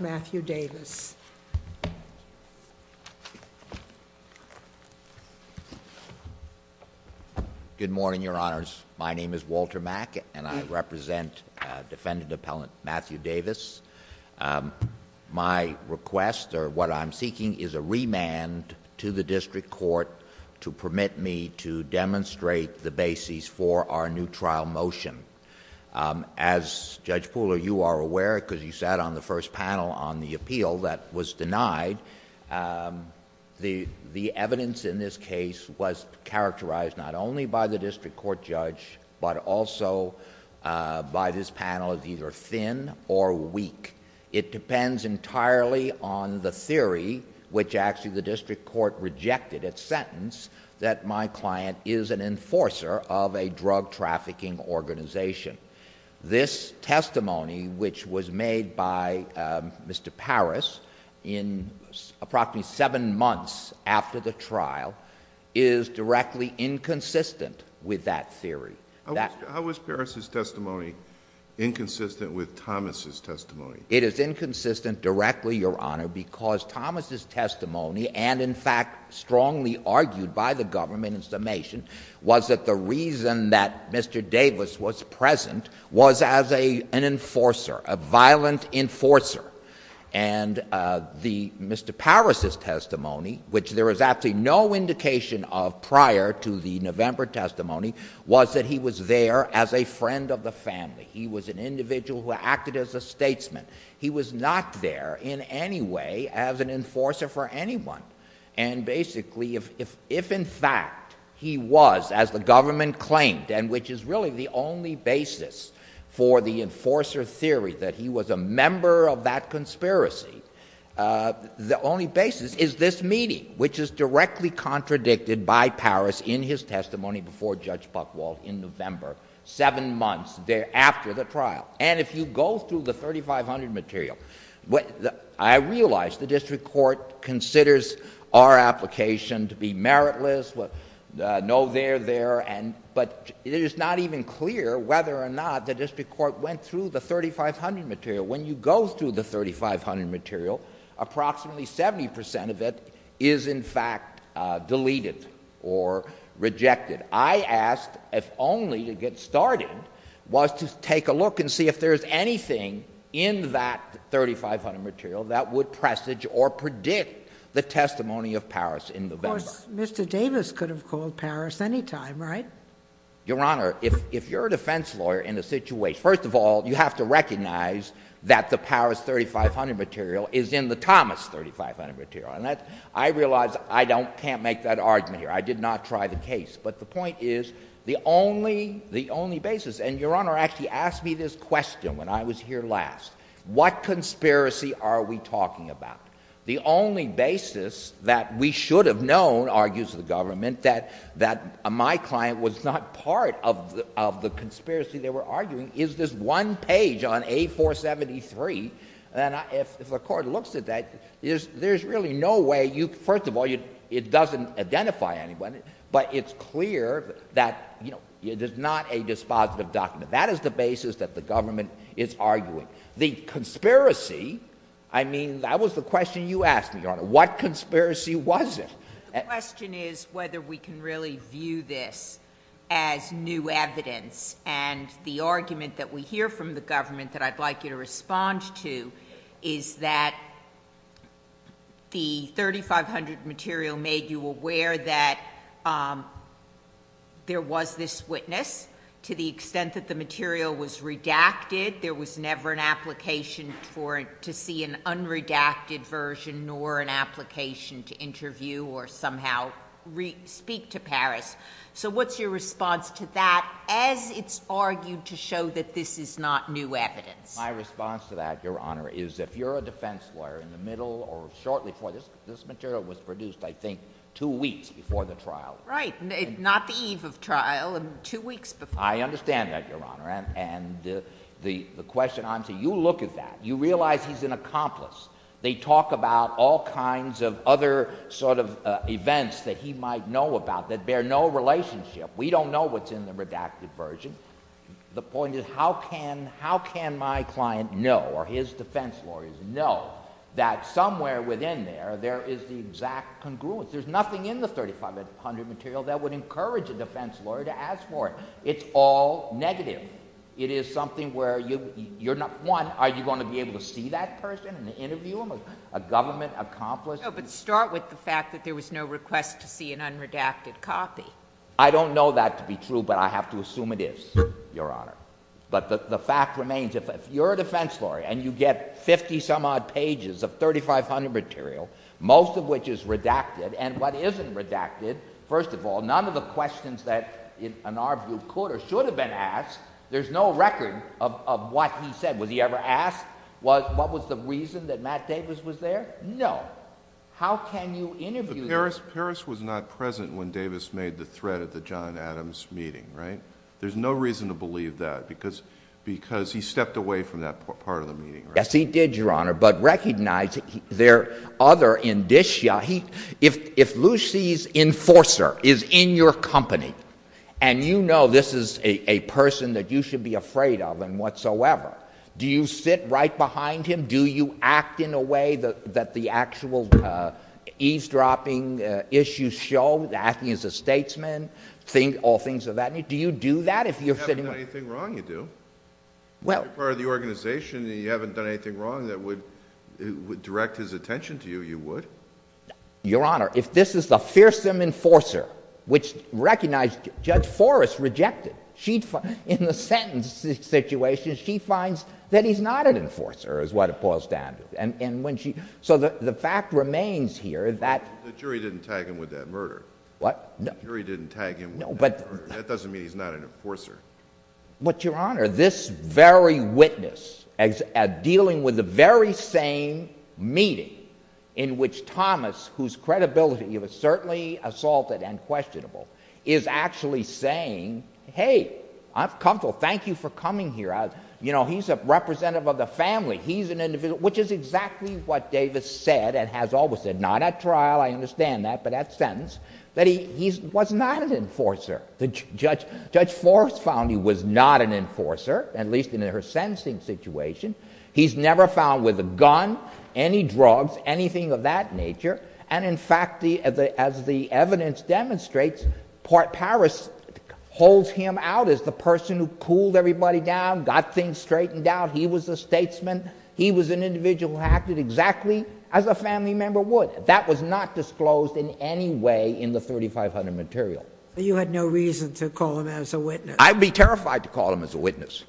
Matthew Davis. Good morning, Your Honors. My name is Walter Mack, and I represent Defendant Appellant Matthew Davis. My request, or what I'm seeking, is a remand to the District Court to permit me to demonstrate the basis for our new trial motion. As Judge Pooler, you are aware, because you sat on the first panel on the appeal that was denied, the evidence in this case was characterized not only by the District Court judge, but also by this panel as either thin or weak. It depends entirely on the theory, which actually the District Court rejected its sentence that my client is an enforcer of a drug trafficking organization. This testimony, which was made by Mr. Parris in approximately seven months after the trial, is directly inconsistent with that theory. How is Parris's testimony inconsistent with Thomas' testimony? It is inconsistent directly, Your Honor, because Thomas' testimony and in fact strongly argued by the government in summation was that the reason that Mr. Davis was present was as an enforcer, a violent enforcer. And the Mr. Parris's testimony, which there is actually no indication of prior to the November testimony, was that he was there as a friend of the family. He was an individual who acted as a statesman. He was not there in any way as an enforcer for anyone. And basically, if in fact he was, as the government claimed, and which is really the only basis for the enforcer theory, that he was a member of that conspiracy, the only basis is this meeting, which is directly contradicted by Parris in his testimony before Judge Buchwald in November, seven months after the trial. And if you go through the 3500 material, I realize the district court considers our application to be meritless, no there, there, but it is not even clear whether or not the district court went through the 3500 material. When you go through the 3500 material, approximately 70 percent of it is in fact deleted or rejected. I asked, if only to get started, was to take a look and see if there is anything in that 3500 material that would presage or predict the testimony of Parris in November. Of course, Mr. Davis could have called Parris any time, right? Your Honor, if you're a defense lawyer in a situation, first of all, you have to recognize that the Parris 3500 material is in the Thomas 3500 material. And I realize I can't make that argument here. I did not try the case. But the point is, the only basis, and Your Honor, it gave me this question when I was here last, what conspiracy are we talking about? The only basis that we should have known, argues the government, that my client was not part of the conspiracy they were arguing is this one page on A473. And if the court looks at that, there's really no way you, first of all, it doesn't identify anyone, but it's clear that, you know, there's not a dispositive document. That is the basis that the government is arguing. The conspiracy, I mean, that was the question you asked me, Your Honor. What conspiracy was it? The question is whether we can really view this as new evidence. And the argument that we hear from the government that I'd like you to respond to is that the 3500 material made you aware that there was this witness to the extent that the material was redacted. There was never an application to see an unredacted version nor an application to interview or somehow speak to Paris. So what's your response to that as it's argued to show that this is not new evidence? My response to that, Your Honor, is if you're a defense lawyer in the middle or shortly before, this material was produced, I think, two weeks before the trial. Right. Not the eve of trial, two weeks before. I understand that, Your Honor. And the question I'm saying, you look at that. You realize he's an accomplice. They talk about all kinds of other sort of events that he might know about that bear no relationship. We don't know what's in the redacted version. The point is, how can my client know or his defense lawyers know that somewhere within there, there is the exact congruence? There's nothing in the 3500 material that would encourage a defense lawyer to ask for it. It's all negative. It is something where, one, are you going to be able to see that person and interview him, a government accomplice? No, but start with the fact that there was no request to see an unredacted copy. I don't know that to be true, but I have to assume it is, Your Honor. But the fact remains, if you're a defense lawyer and you get 50-some-odd pages of 3500 material, most of which is redacted, and what isn't redacted, first of all, none of the questions that, in our view, could or should have been asked, there's no record of what he said. Was he ever asked what was the reason that Matt Davis was there? No. How can you interview him? Harris was not present when Davis made the threat at the John Adams meeting, right? There's no reason to believe that, because he stepped away from that part of the meeting, right? Yes, he did, Your Honor, but recognize there are other indicia. If Lucy's enforcer is in your company, and you know this is a person that you should be afraid of and whatsoever, do you sit right behind him? Do you act in a way that the actual eavesdropping issues show, acting as a statesman, all things of that nature? Do you do that if you're sitting with him? If you haven't done anything wrong, you do. If you're part of the organization and you haven't done anything wrong that would direct his attention to you, you would. Your Honor, if this is the fearsome enforcer, which recognized Judge Forrest rejected, in the sentence situation, she finds that he's not an enforcer, is what it boils down to. So the fact remains here that... The jury didn't tag him with that murder. What? The jury didn't tag him with that murder. That doesn't mean he's not an enforcer. But Your Honor, this very witness, dealing with the very same meeting in which Thomas, whose credibility was certainly assaulted and questionable, is actually saying, hey, I'm comfortable, thank you for coming here. You know, he's a representative of the family. He's an individual... Which is exactly what Davis said and has always said, not at trial, I understand that, but at sentence, that he was not an enforcer. Judge Forrest found he was not an enforcer, at least in her sentencing situation. He's never found with a gun, any drugs, anything of that nature. And in fact, as the evidence demonstrates, Paris holds him out as the person who pulled everybody down, got things straightened out. He was a statesman. He was an individual who acted exactly as a family member would. That was not disclosed in any way in the 3500 material. You had no reason to call him as a witness. I'd be terrified to call him as a witness,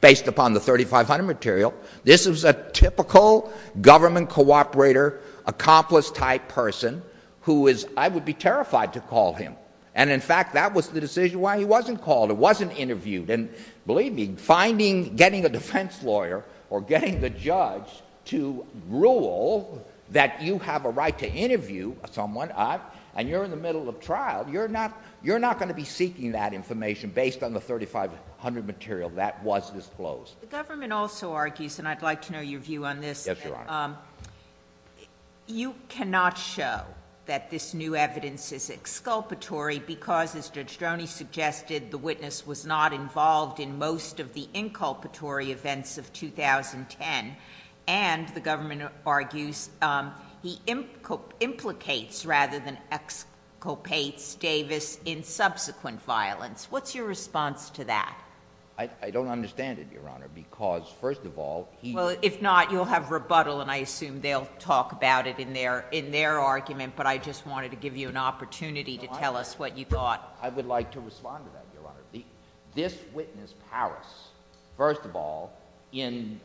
based upon the 3500 material. This is a typical government cooperator, accomplice-type person who is... I would be terrified to call him. And in fact, that was the decision why he wasn't called, he wasn't interviewed. And believe me, finding, getting a defense lawyer or getting the judge to rule that you have a right to interview someone and you're in the middle of trial, you're not going to be in the middle of a trial. That was not disclosed in the 3500 material. That was disclosed. The government also argues, and I'd like to know your view on this. Yes, Your Honor. You cannot show that this new evidence is exculpatory because, as Judge Droney suggested, the witness was not involved in most of the inculpatory events of 2010. And the government argues he implicates, rather than exculpates, Davis in subsequent violence. What's your response to that? I don't understand it, Your Honor, because, first of all, he... Well, if not, you'll have rebuttal, and I assume they'll talk about it in their argument, but I just wanted to give you an opportunity to tell us what you thought. I would like to respond to that, Your Honor. This witness, Paris, first of all, in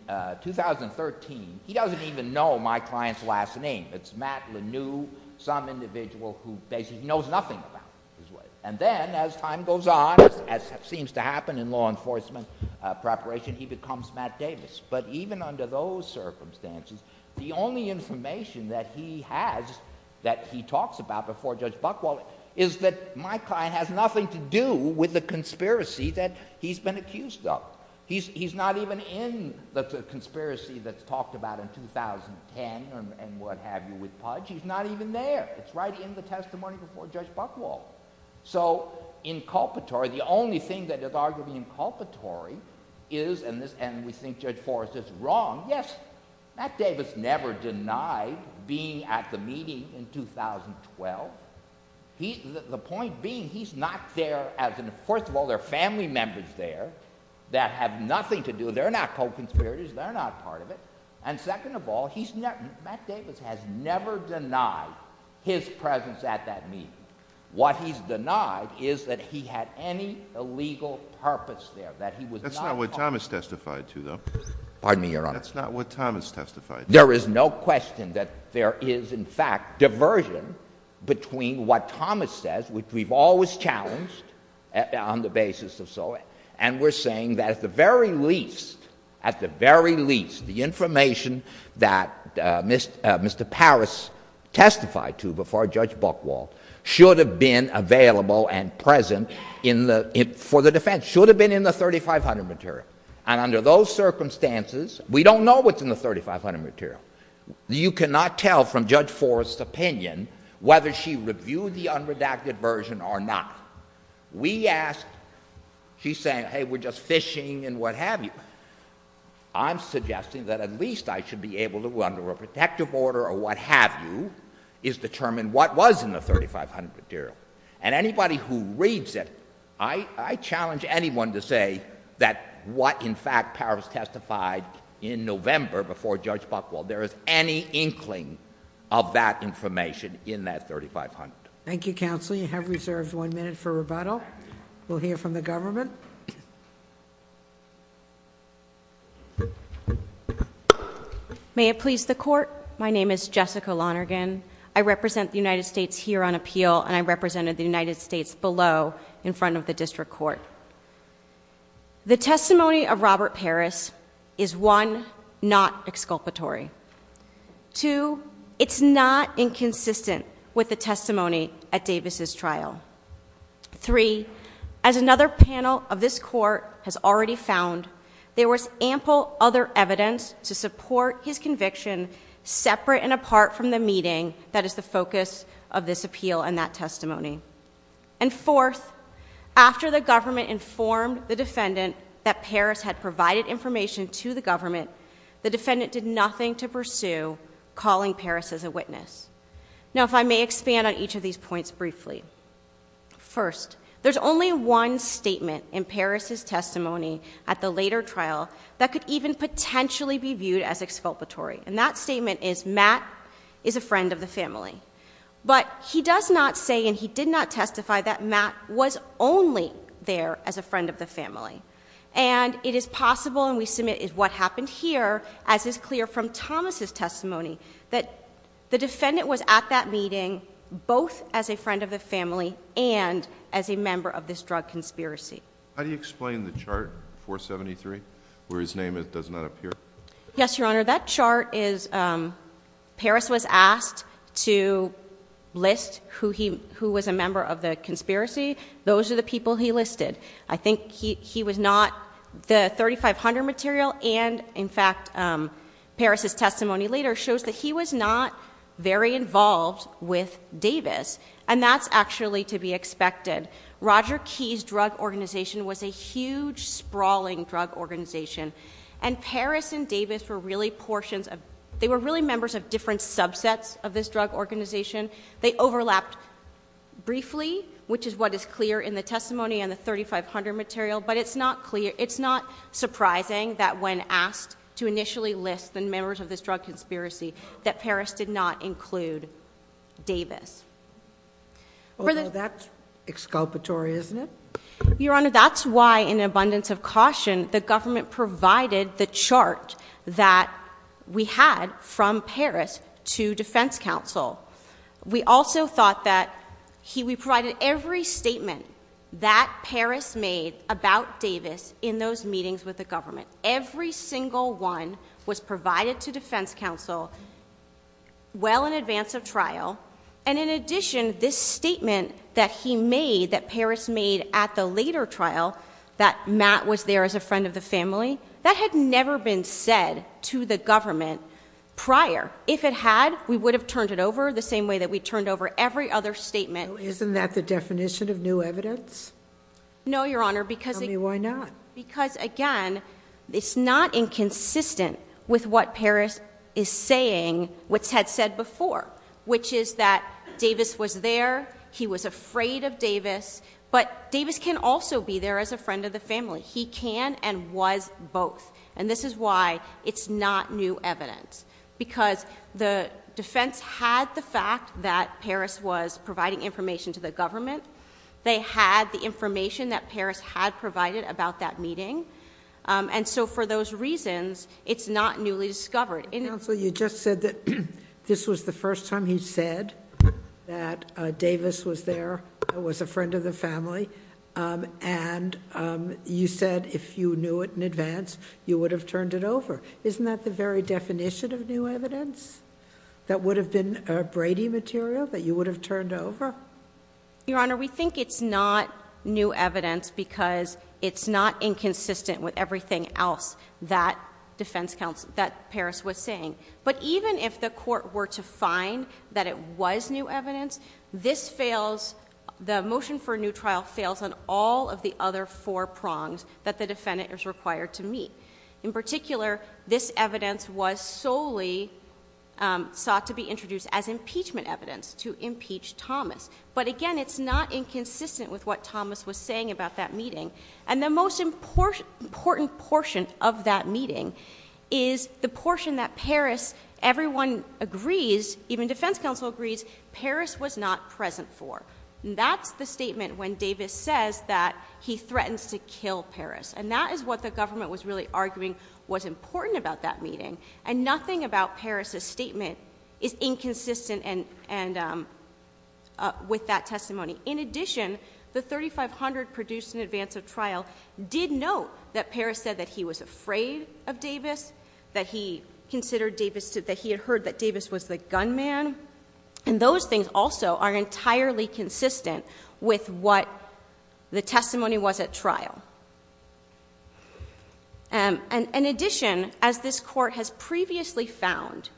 2013, he doesn't even know my client's last name. It's Matt Lanue, some individual who basically knows nothing about his wife. And then, as time goes on, as seems to happen in law enforcement preparation, he becomes Matt Davis. But even under those circumstances, the only information that he has that he talks about before Judge Buchwald is that my client has nothing to do with the conspiracy that he's been accused of. He's not even in the conspiracy that's talked about in 2010 and what have you with Pudge. He's not even there. It's right in the testimony before Judge Buchwald. So, inculpatory, the only thing that is arguably inculpatory is, and we think Judge Forrest is wrong, yes, Matt Davis never denied being at the meeting in 2012. The point being, he's not there as an... First of all, there are family members there that have nothing to do... They're not co-conspirators. They're not part of it. And he was at that meeting. What he's denied is that he had any illegal purpose there, that he was not... That's not what Thomas testified to, though. Pardon me, Your Honor. That's not what Thomas testified to. There is no question that there is, in fact, diversion between what Thomas says, which we've always challenged on the basis of so... And we're saying that at the very least, at the very least, the information that Mr. Paris testified to before Judge Buchwald should have been available and present for the defense, should have been in the 3500 material. And under those circumstances, we don't know what's in the 3500 material. You cannot tell from Judge Forrest's opinion whether she reviewed the unredacted version or not. We asked... She's saying, hey, we're just fishing and what have you. I'm suggesting that at least I should be able to, under a protective order or what have you, is determine what was in the 3500 material. And anybody who reads it, I challenge anyone to say that what, in fact, Paris testified in November before Judge Buchwald, there is any inkling of that information in that 3500. Thank you, Counsel. You have reserved one minute for rebuttal. We'll hear from the government. May it please the Court. My name is Jessica Lonergan. I represent the United States here on appeal and I represented the United States below in front of the District Court. The testimony of Robert Paris is, one, not exculpatory. Two, it's not inconsistent with the testimony at Davis' trial. Three, as another panel of this Court has already found, there was ample other evidence to support his conviction separate and apart from the meeting that is the focus of this appeal and that testimony. And fourth, after the government informed the defendant that Paris had provided information to the government, the defendant did nothing to pursue calling Paris as a witness. Now, if I may expand on each of these points briefly. First, there's only one statement in Paris' testimony at the later trial that could even potentially be viewed as exculpatory. And that statement is Matt is a friend of the family. But he does not say and he did not testify that Matt was only there as a friend of the family. And it is possible, and we submit what happened here, as is clear from Thomas' testimony, that the defendant was at that meeting both as a friend of the family and as a member of this drug conspiracy. How do you explain the chart 473 where his name does not appear? Yes, Your Honor. That chart is Paris was asked to list who was a member of the conspiracy. Those are the people he listed. I think he was not. The 3500 material and, in fact, Paris' testimony later shows that he was not very involved with Davis. And that's actually to be expected. Roger Keyes Drug Organization was a huge, sprawling drug organization. And Paris and Davis were really portions of, they were really members of different subsets of this drug organization. They overlapped briefly, which is what is clear in the testimony and the 3500 material. But it's not clear, it's not surprising that when asked to initially list the members of this drug conspiracy that Paris did not include Davis. Although that's exculpatory, isn't it? Your Honor, that's why, in an abundance of caution, the government provided the chart that we had from Paris to defense counsel. We also thought that we provided every statement that Paris made about Davis in those meetings with the government. Every single one was provided to defense counsel well in advance of trial. And in addition, this statement that he made, that Paris made at the later trial, that Matt was there as a friend of the family, that had never been said to the government prior. If it had, we would have turned it over the same way that we turned over every other statement. Isn't that the definition of new evidence? No, Your Honor, because... Tell me why not. Because again, it's not inconsistent with what Paris is saying, what's had said before, which is that Davis was there, he was afraid of Davis, but Davis can also be there as a friend of the family. It was both. And this is why it's not new evidence. Because the defense had the fact that Paris was providing information to the government. They had the information that Paris had provided about that meeting. And so for those reasons, it's not newly discovered. Counsel, you just said that this was the first time he said that Davis was there, was a friend of the family, and you said if you knew it in advance, you would have turned it over. Isn't that the very definition of new evidence? That would have been Brady material that you would have turned over? Your Honor, we think it's not new evidence because it's not inconsistent with everything else that defense counsel, that Paris was saying. But even if the court were to find that it was new evidence, this fails, the motion for new trial fails on all of the other four prongs that the defendant is required to meet. In particular, this evidence was solely sought to be introduced as impeachment evidence to impeach Thomas. But again, it's not inconsistent with what Thomas was saying about that meeting. And the most important portion of that meeting is the portion that Paris, everyone agrees, even defense counsel agrees, Paris was not present for. That's the statement when Davis says that he threatens to kill Paris. And that is what the government was really arguing was important about that meeting. And nothing about Paris' statement is inconsistent with that testimony. In addition, the 3500 produced in advance of trial did note that Paris said that he was afraid of Davis, that he considered Davis, that he had heard that Davis was the gunman. And those things also are entirely consistent with what the testimony was at trial. And in addition, as this court has previously found,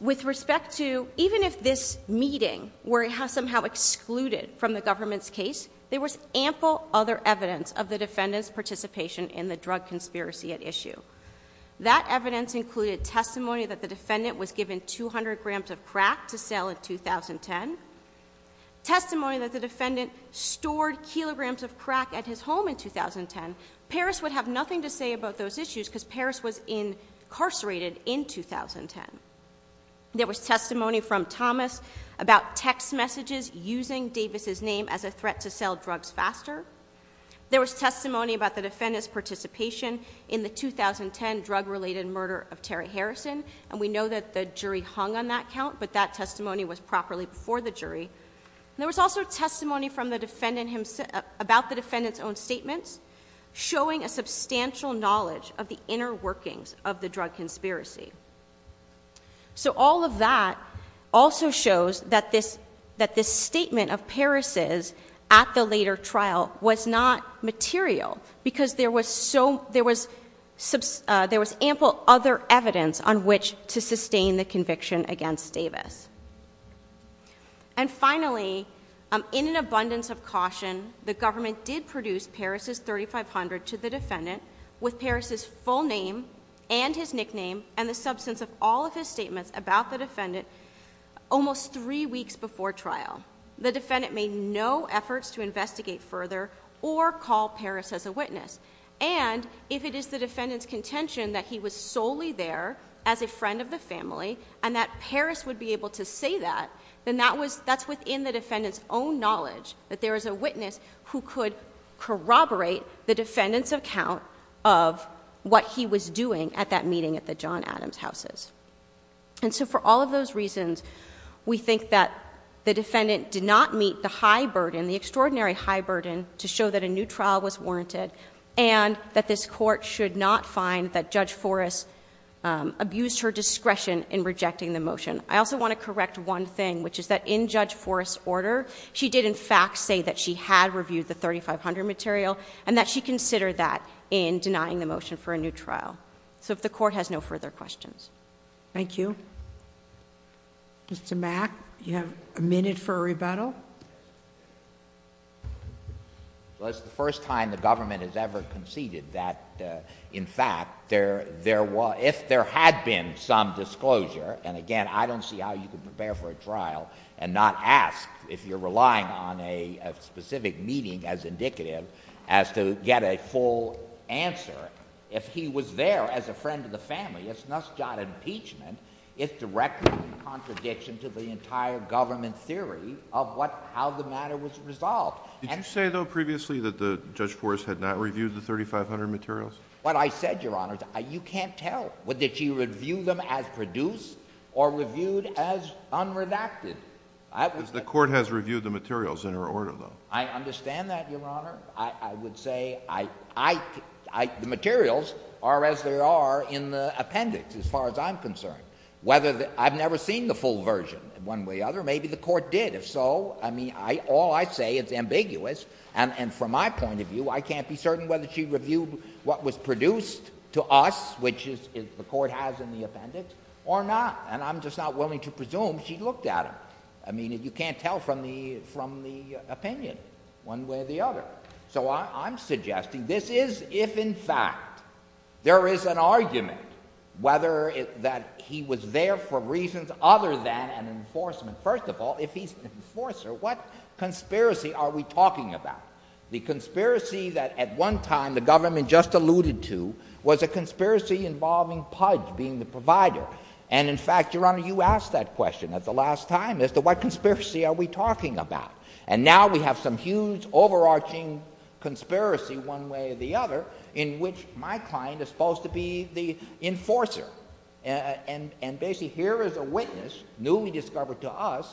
with respect to even if this meeting were somehow excluded from the government's case, there was ample other evidence of the defendant's participation in the drug conspiracy at issue. That evidence included testimony that the defendant was given 200 grams of crack to sell in 2010, testimony that the defendant stored kilograms of crack at his home in 2010. Paris would have nothing to say about those issues because Paris was incarcerated in 2010. There was testimony from Thomas about text messages using Davis' name as a threat to sell drugs faster. There was testimony about the defendant's participation in the 2010 drug-related murder of Terry Harrison. And we know that the jury hung on that count, but that testimony was properly before the jury. There was also testimony from the defendant himself about the defendant's own statements, showing a substantial knowledge of the inner workings of the drug conspiracy. So all of that also shows that this statement of Paris' at the later trial was not material because there was ample other evidence on which to sustain the conviction against Davis. And finally, in an abundance of caution, the government did produce Paris' 3500 to the substance of all of his statements about the defendant almost three weeks before trial. The defendant made no efforts to investigate further or call Paris as a witness. And if it is the defendant's contention that he was solely there as a friend of the family and that Paris would be able to say that, then that's within the defendant's own knowledge that there is a witness who could corroborate the defendant's account of what he was doing at that meeting at the John Adams houses. And so for all of those reasons, we think that the defendant did not meet the high burden, the extraordinary high burden, to show that a new trial was warranted and that this court should not find that Judge Forrest abused her discretion in rejecting the motion. I also want to correct one thing, which is that in Judge Forrest's order, she did in fact say that she had reviewed the 3500 material and that she considered that in denying the So if the Court has no further questions. Thank you. Mr. Mack, you have a minute for a rebuttal. Well, it's the first time the government has ever conceded that in fact, if there had been some disclosure, and again, I don't see how you could prepare for a trial and not ask if you're relying on a specific meeting as indicative as to get a full answer. If he was there as a friend of the family, it's not impeachment, it's directly in contradiction to the entire government theory of how the matter was resolved. Did you say, though, previously that Judge Forrest had not reviewed the 3500 materials? What I said, Your Honor, you can't tell. Did she review them as produced or reviewed as unredacted? The Court has reviewed the materials in her order, though. I understand that, Your Honor. I would say the materials are as they are in the appendix, as far as I'm concerned. I've never seen the full version, one way or the other. Maybe the Court did. If so, all I say is ambiguous. And from my point of view, I can't be certain whether she reviewed what was produced to us, which the Court has in the appendix, or not. And I'm just not willing to presume she looked at them. I mean, you can't tell from the opinion, one way or the other. So I'm suggesting this is if, in fact, there is an argument whether that he was there for reasons other than an enforcement. First of all, if he's an enforcer, what conspiracy are we talking about? The conspiracy that, at one time, the government just alluded to was a conspiracy involving Pudge being the provider. And, in fact, Your Honor, you asked that question at the last time as to what conspiracy are we talking about. And now we have some huge, overarching conspiracy, one way or the other, in which my client is supposed to be the enforcer. And basically, here is a witness, newly discovered to us,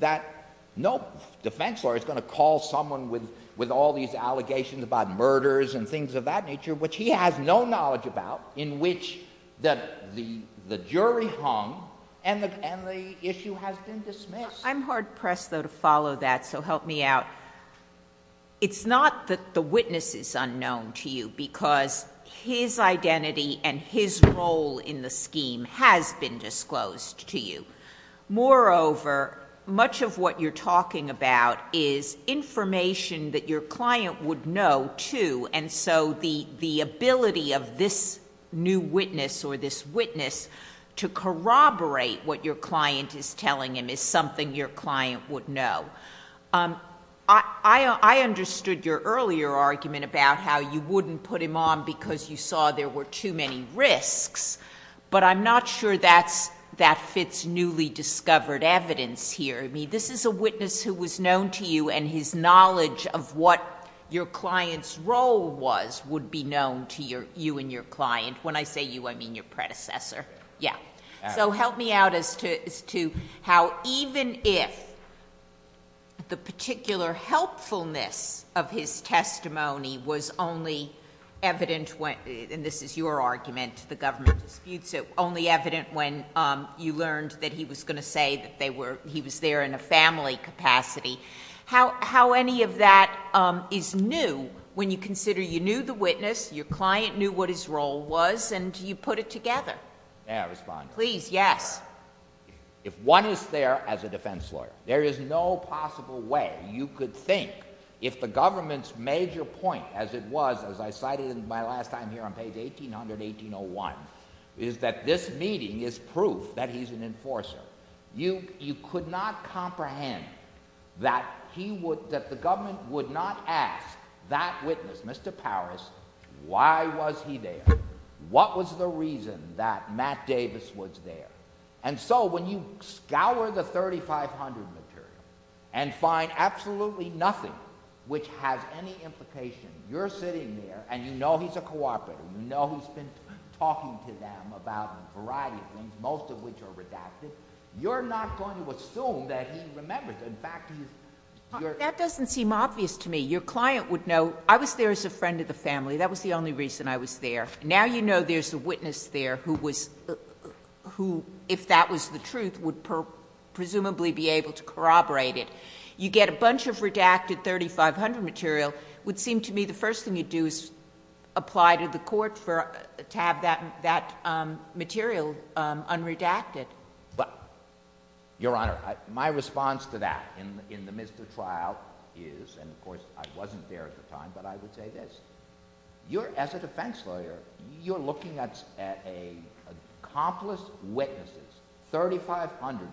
that no defense lawyer is going to call someone with all these allegations about murders and things of that nature, which he has no knowledge about, in which the jury hung and the issue has been dismissed. I'm hard-pressed, though, to follow that, so help me out. It's not that the witness is unknown to you, because his identity and his role in the scheme has been disclosed to you. Moreover, much of what you're talking about is information that your client would know, too. And so the ability of this new witness or this witness to corroborate what your client is telling him is something your client would know. I understood your earlier argument about how you wouldn't put him on because you saw there were too many risks, but I'm not sure that fits newly discovered evidence here. I mean, this is a witness who was known to you, and his knowledge of what your client's role was would be known to you and your client. When I say you, I mean your predecessor. Yeah. So help me out as to how even if the particular helpfulness of his testimony was only evident when, and this is your argument, the government disputes it, only evident when you learned that he was going to say that he was there in a family capacity, how any of that is new when you consider you knew the witness, your client knew what his role was, and you put it together? May I respond? Please, yes. If one is there as a defense lawyer, there is no possible way you could think if the government's major point, as it was, as I cited in my last time here on page 1800, 1801, is that this meeting is proof that he's an enforcer. You could not comprehend that the government would not ask that witness, Mr. Paris, why was he there? What was the reason that Matt Davis was there? And so when you scour the 3500 material and find absolutely nothing which has any implication, you're sitting there, and you know he's a cooperator, you know he's been talking to them about a variety of things, most of which are redacted, you're not going to assume that he remembers. In fact, he's... That doesn't seem obvious to me. Your client would know, I was there as a friend of the family. That was the only reason I was there. Now you know there's a witness there who, if that was the truth, would presumably be able to corroborate it. You get a bunch of reports to have that material unredacted. But, Your Honor, my response to that in the midst of trial is, and of course I wasn't there at the time, but I would say this, you're, as a defense lawyer, you're looking at an accomplice witness, 3500 material.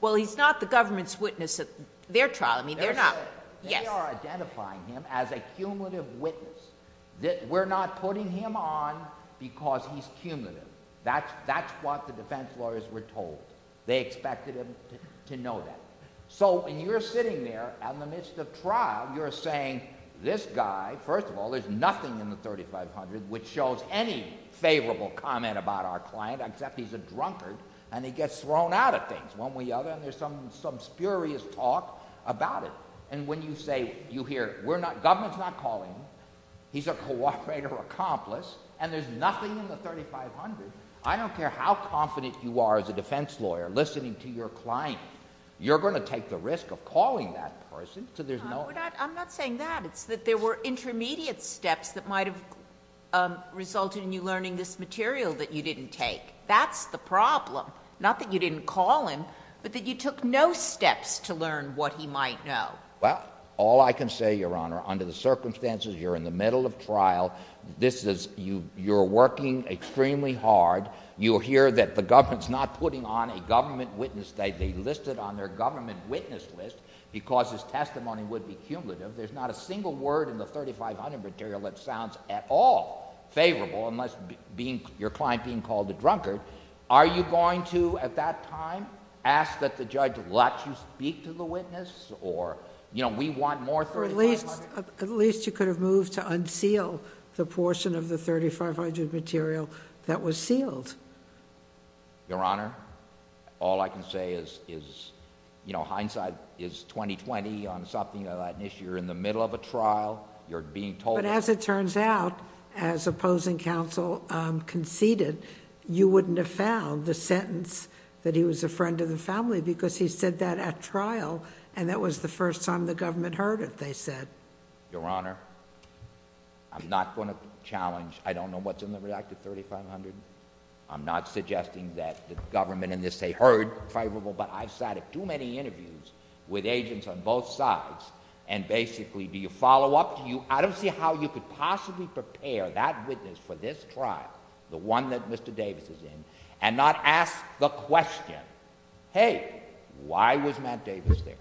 Well, he's not the government's witness at their trial. I mean, they're not... He's gone because he's cumulative. That's what the defense lawyers were told. They expected him to know that. So, when you're sitting there in the midst of trial, you're saying, this guy, first of all, there's nothing in the 3500 which shows any favorable comment about our client, except he's a drunkard, and he gets thrown out of things, one way or the other, and there's some spurious talk about it. And when you say, you hear, we're not... government's not calling him, he's a cooperator accomplice, and there's nothing in the 3500, I don't care how confident you are as a defense lawyer listening to your client, you're going to take the risk of calling that person, so there's no... I'm not saying that. It's that there were intermediate steps that might have resulted in you learning this material that you didn't take. That's the problem. Not that you didn't call him, but that you took no steps to learn what he might know. Well, all I can say, Your Honor, under the circumstances, you're in the middle of trial, this is... you're working extremely hard, you'll hear that the government's not putting on a government witness statement. They list it on their government witness list because his testimony would be cumulative. There's not a single word in the 3500 material that sounds at all favorable, unless being... your client being called a drunkard. Are you going to, at that time, ask that the judge let you speak to the witness, or... we want more 3500... At least you could have moved to unseal the portion of the 3500 material that was sealed. Your Honor, all I can say is hindsight is 20-20 on something like this. You're in the middle of a trial, you're being told... But as it turns out, as opposing counsel conceded, you wouldn't have found the sentence that he was a friend of the family because he said that at trial, and that was the first time the government heard it, they said. Your Honor, I'm not going to challenge... I don't know what's in the redacted 3500. I'm not suggesting that the government in this, say, heard favorable, but I've sat at too many interviews with agents on both sides, and basically, do you follow up? Do you... I don't know how you could possibly prepare that witness for this trial, the one that Mr. Davis is in, and not ask the question, hey, why was Matt Davis there?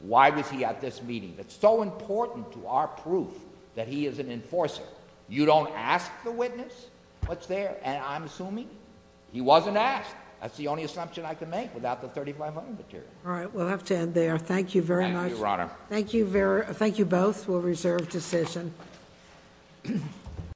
Why was he at this meeting? That's so important to our proof that he is an enforcer. You don't ask the witness what's there, and I'm assuming he wasn't asked. That's the only assumption I can make without the 3500 material. All right. We'll have to end there. Thank you very much. Thank you, Your Honor. Thank you both. We'll reserve decision.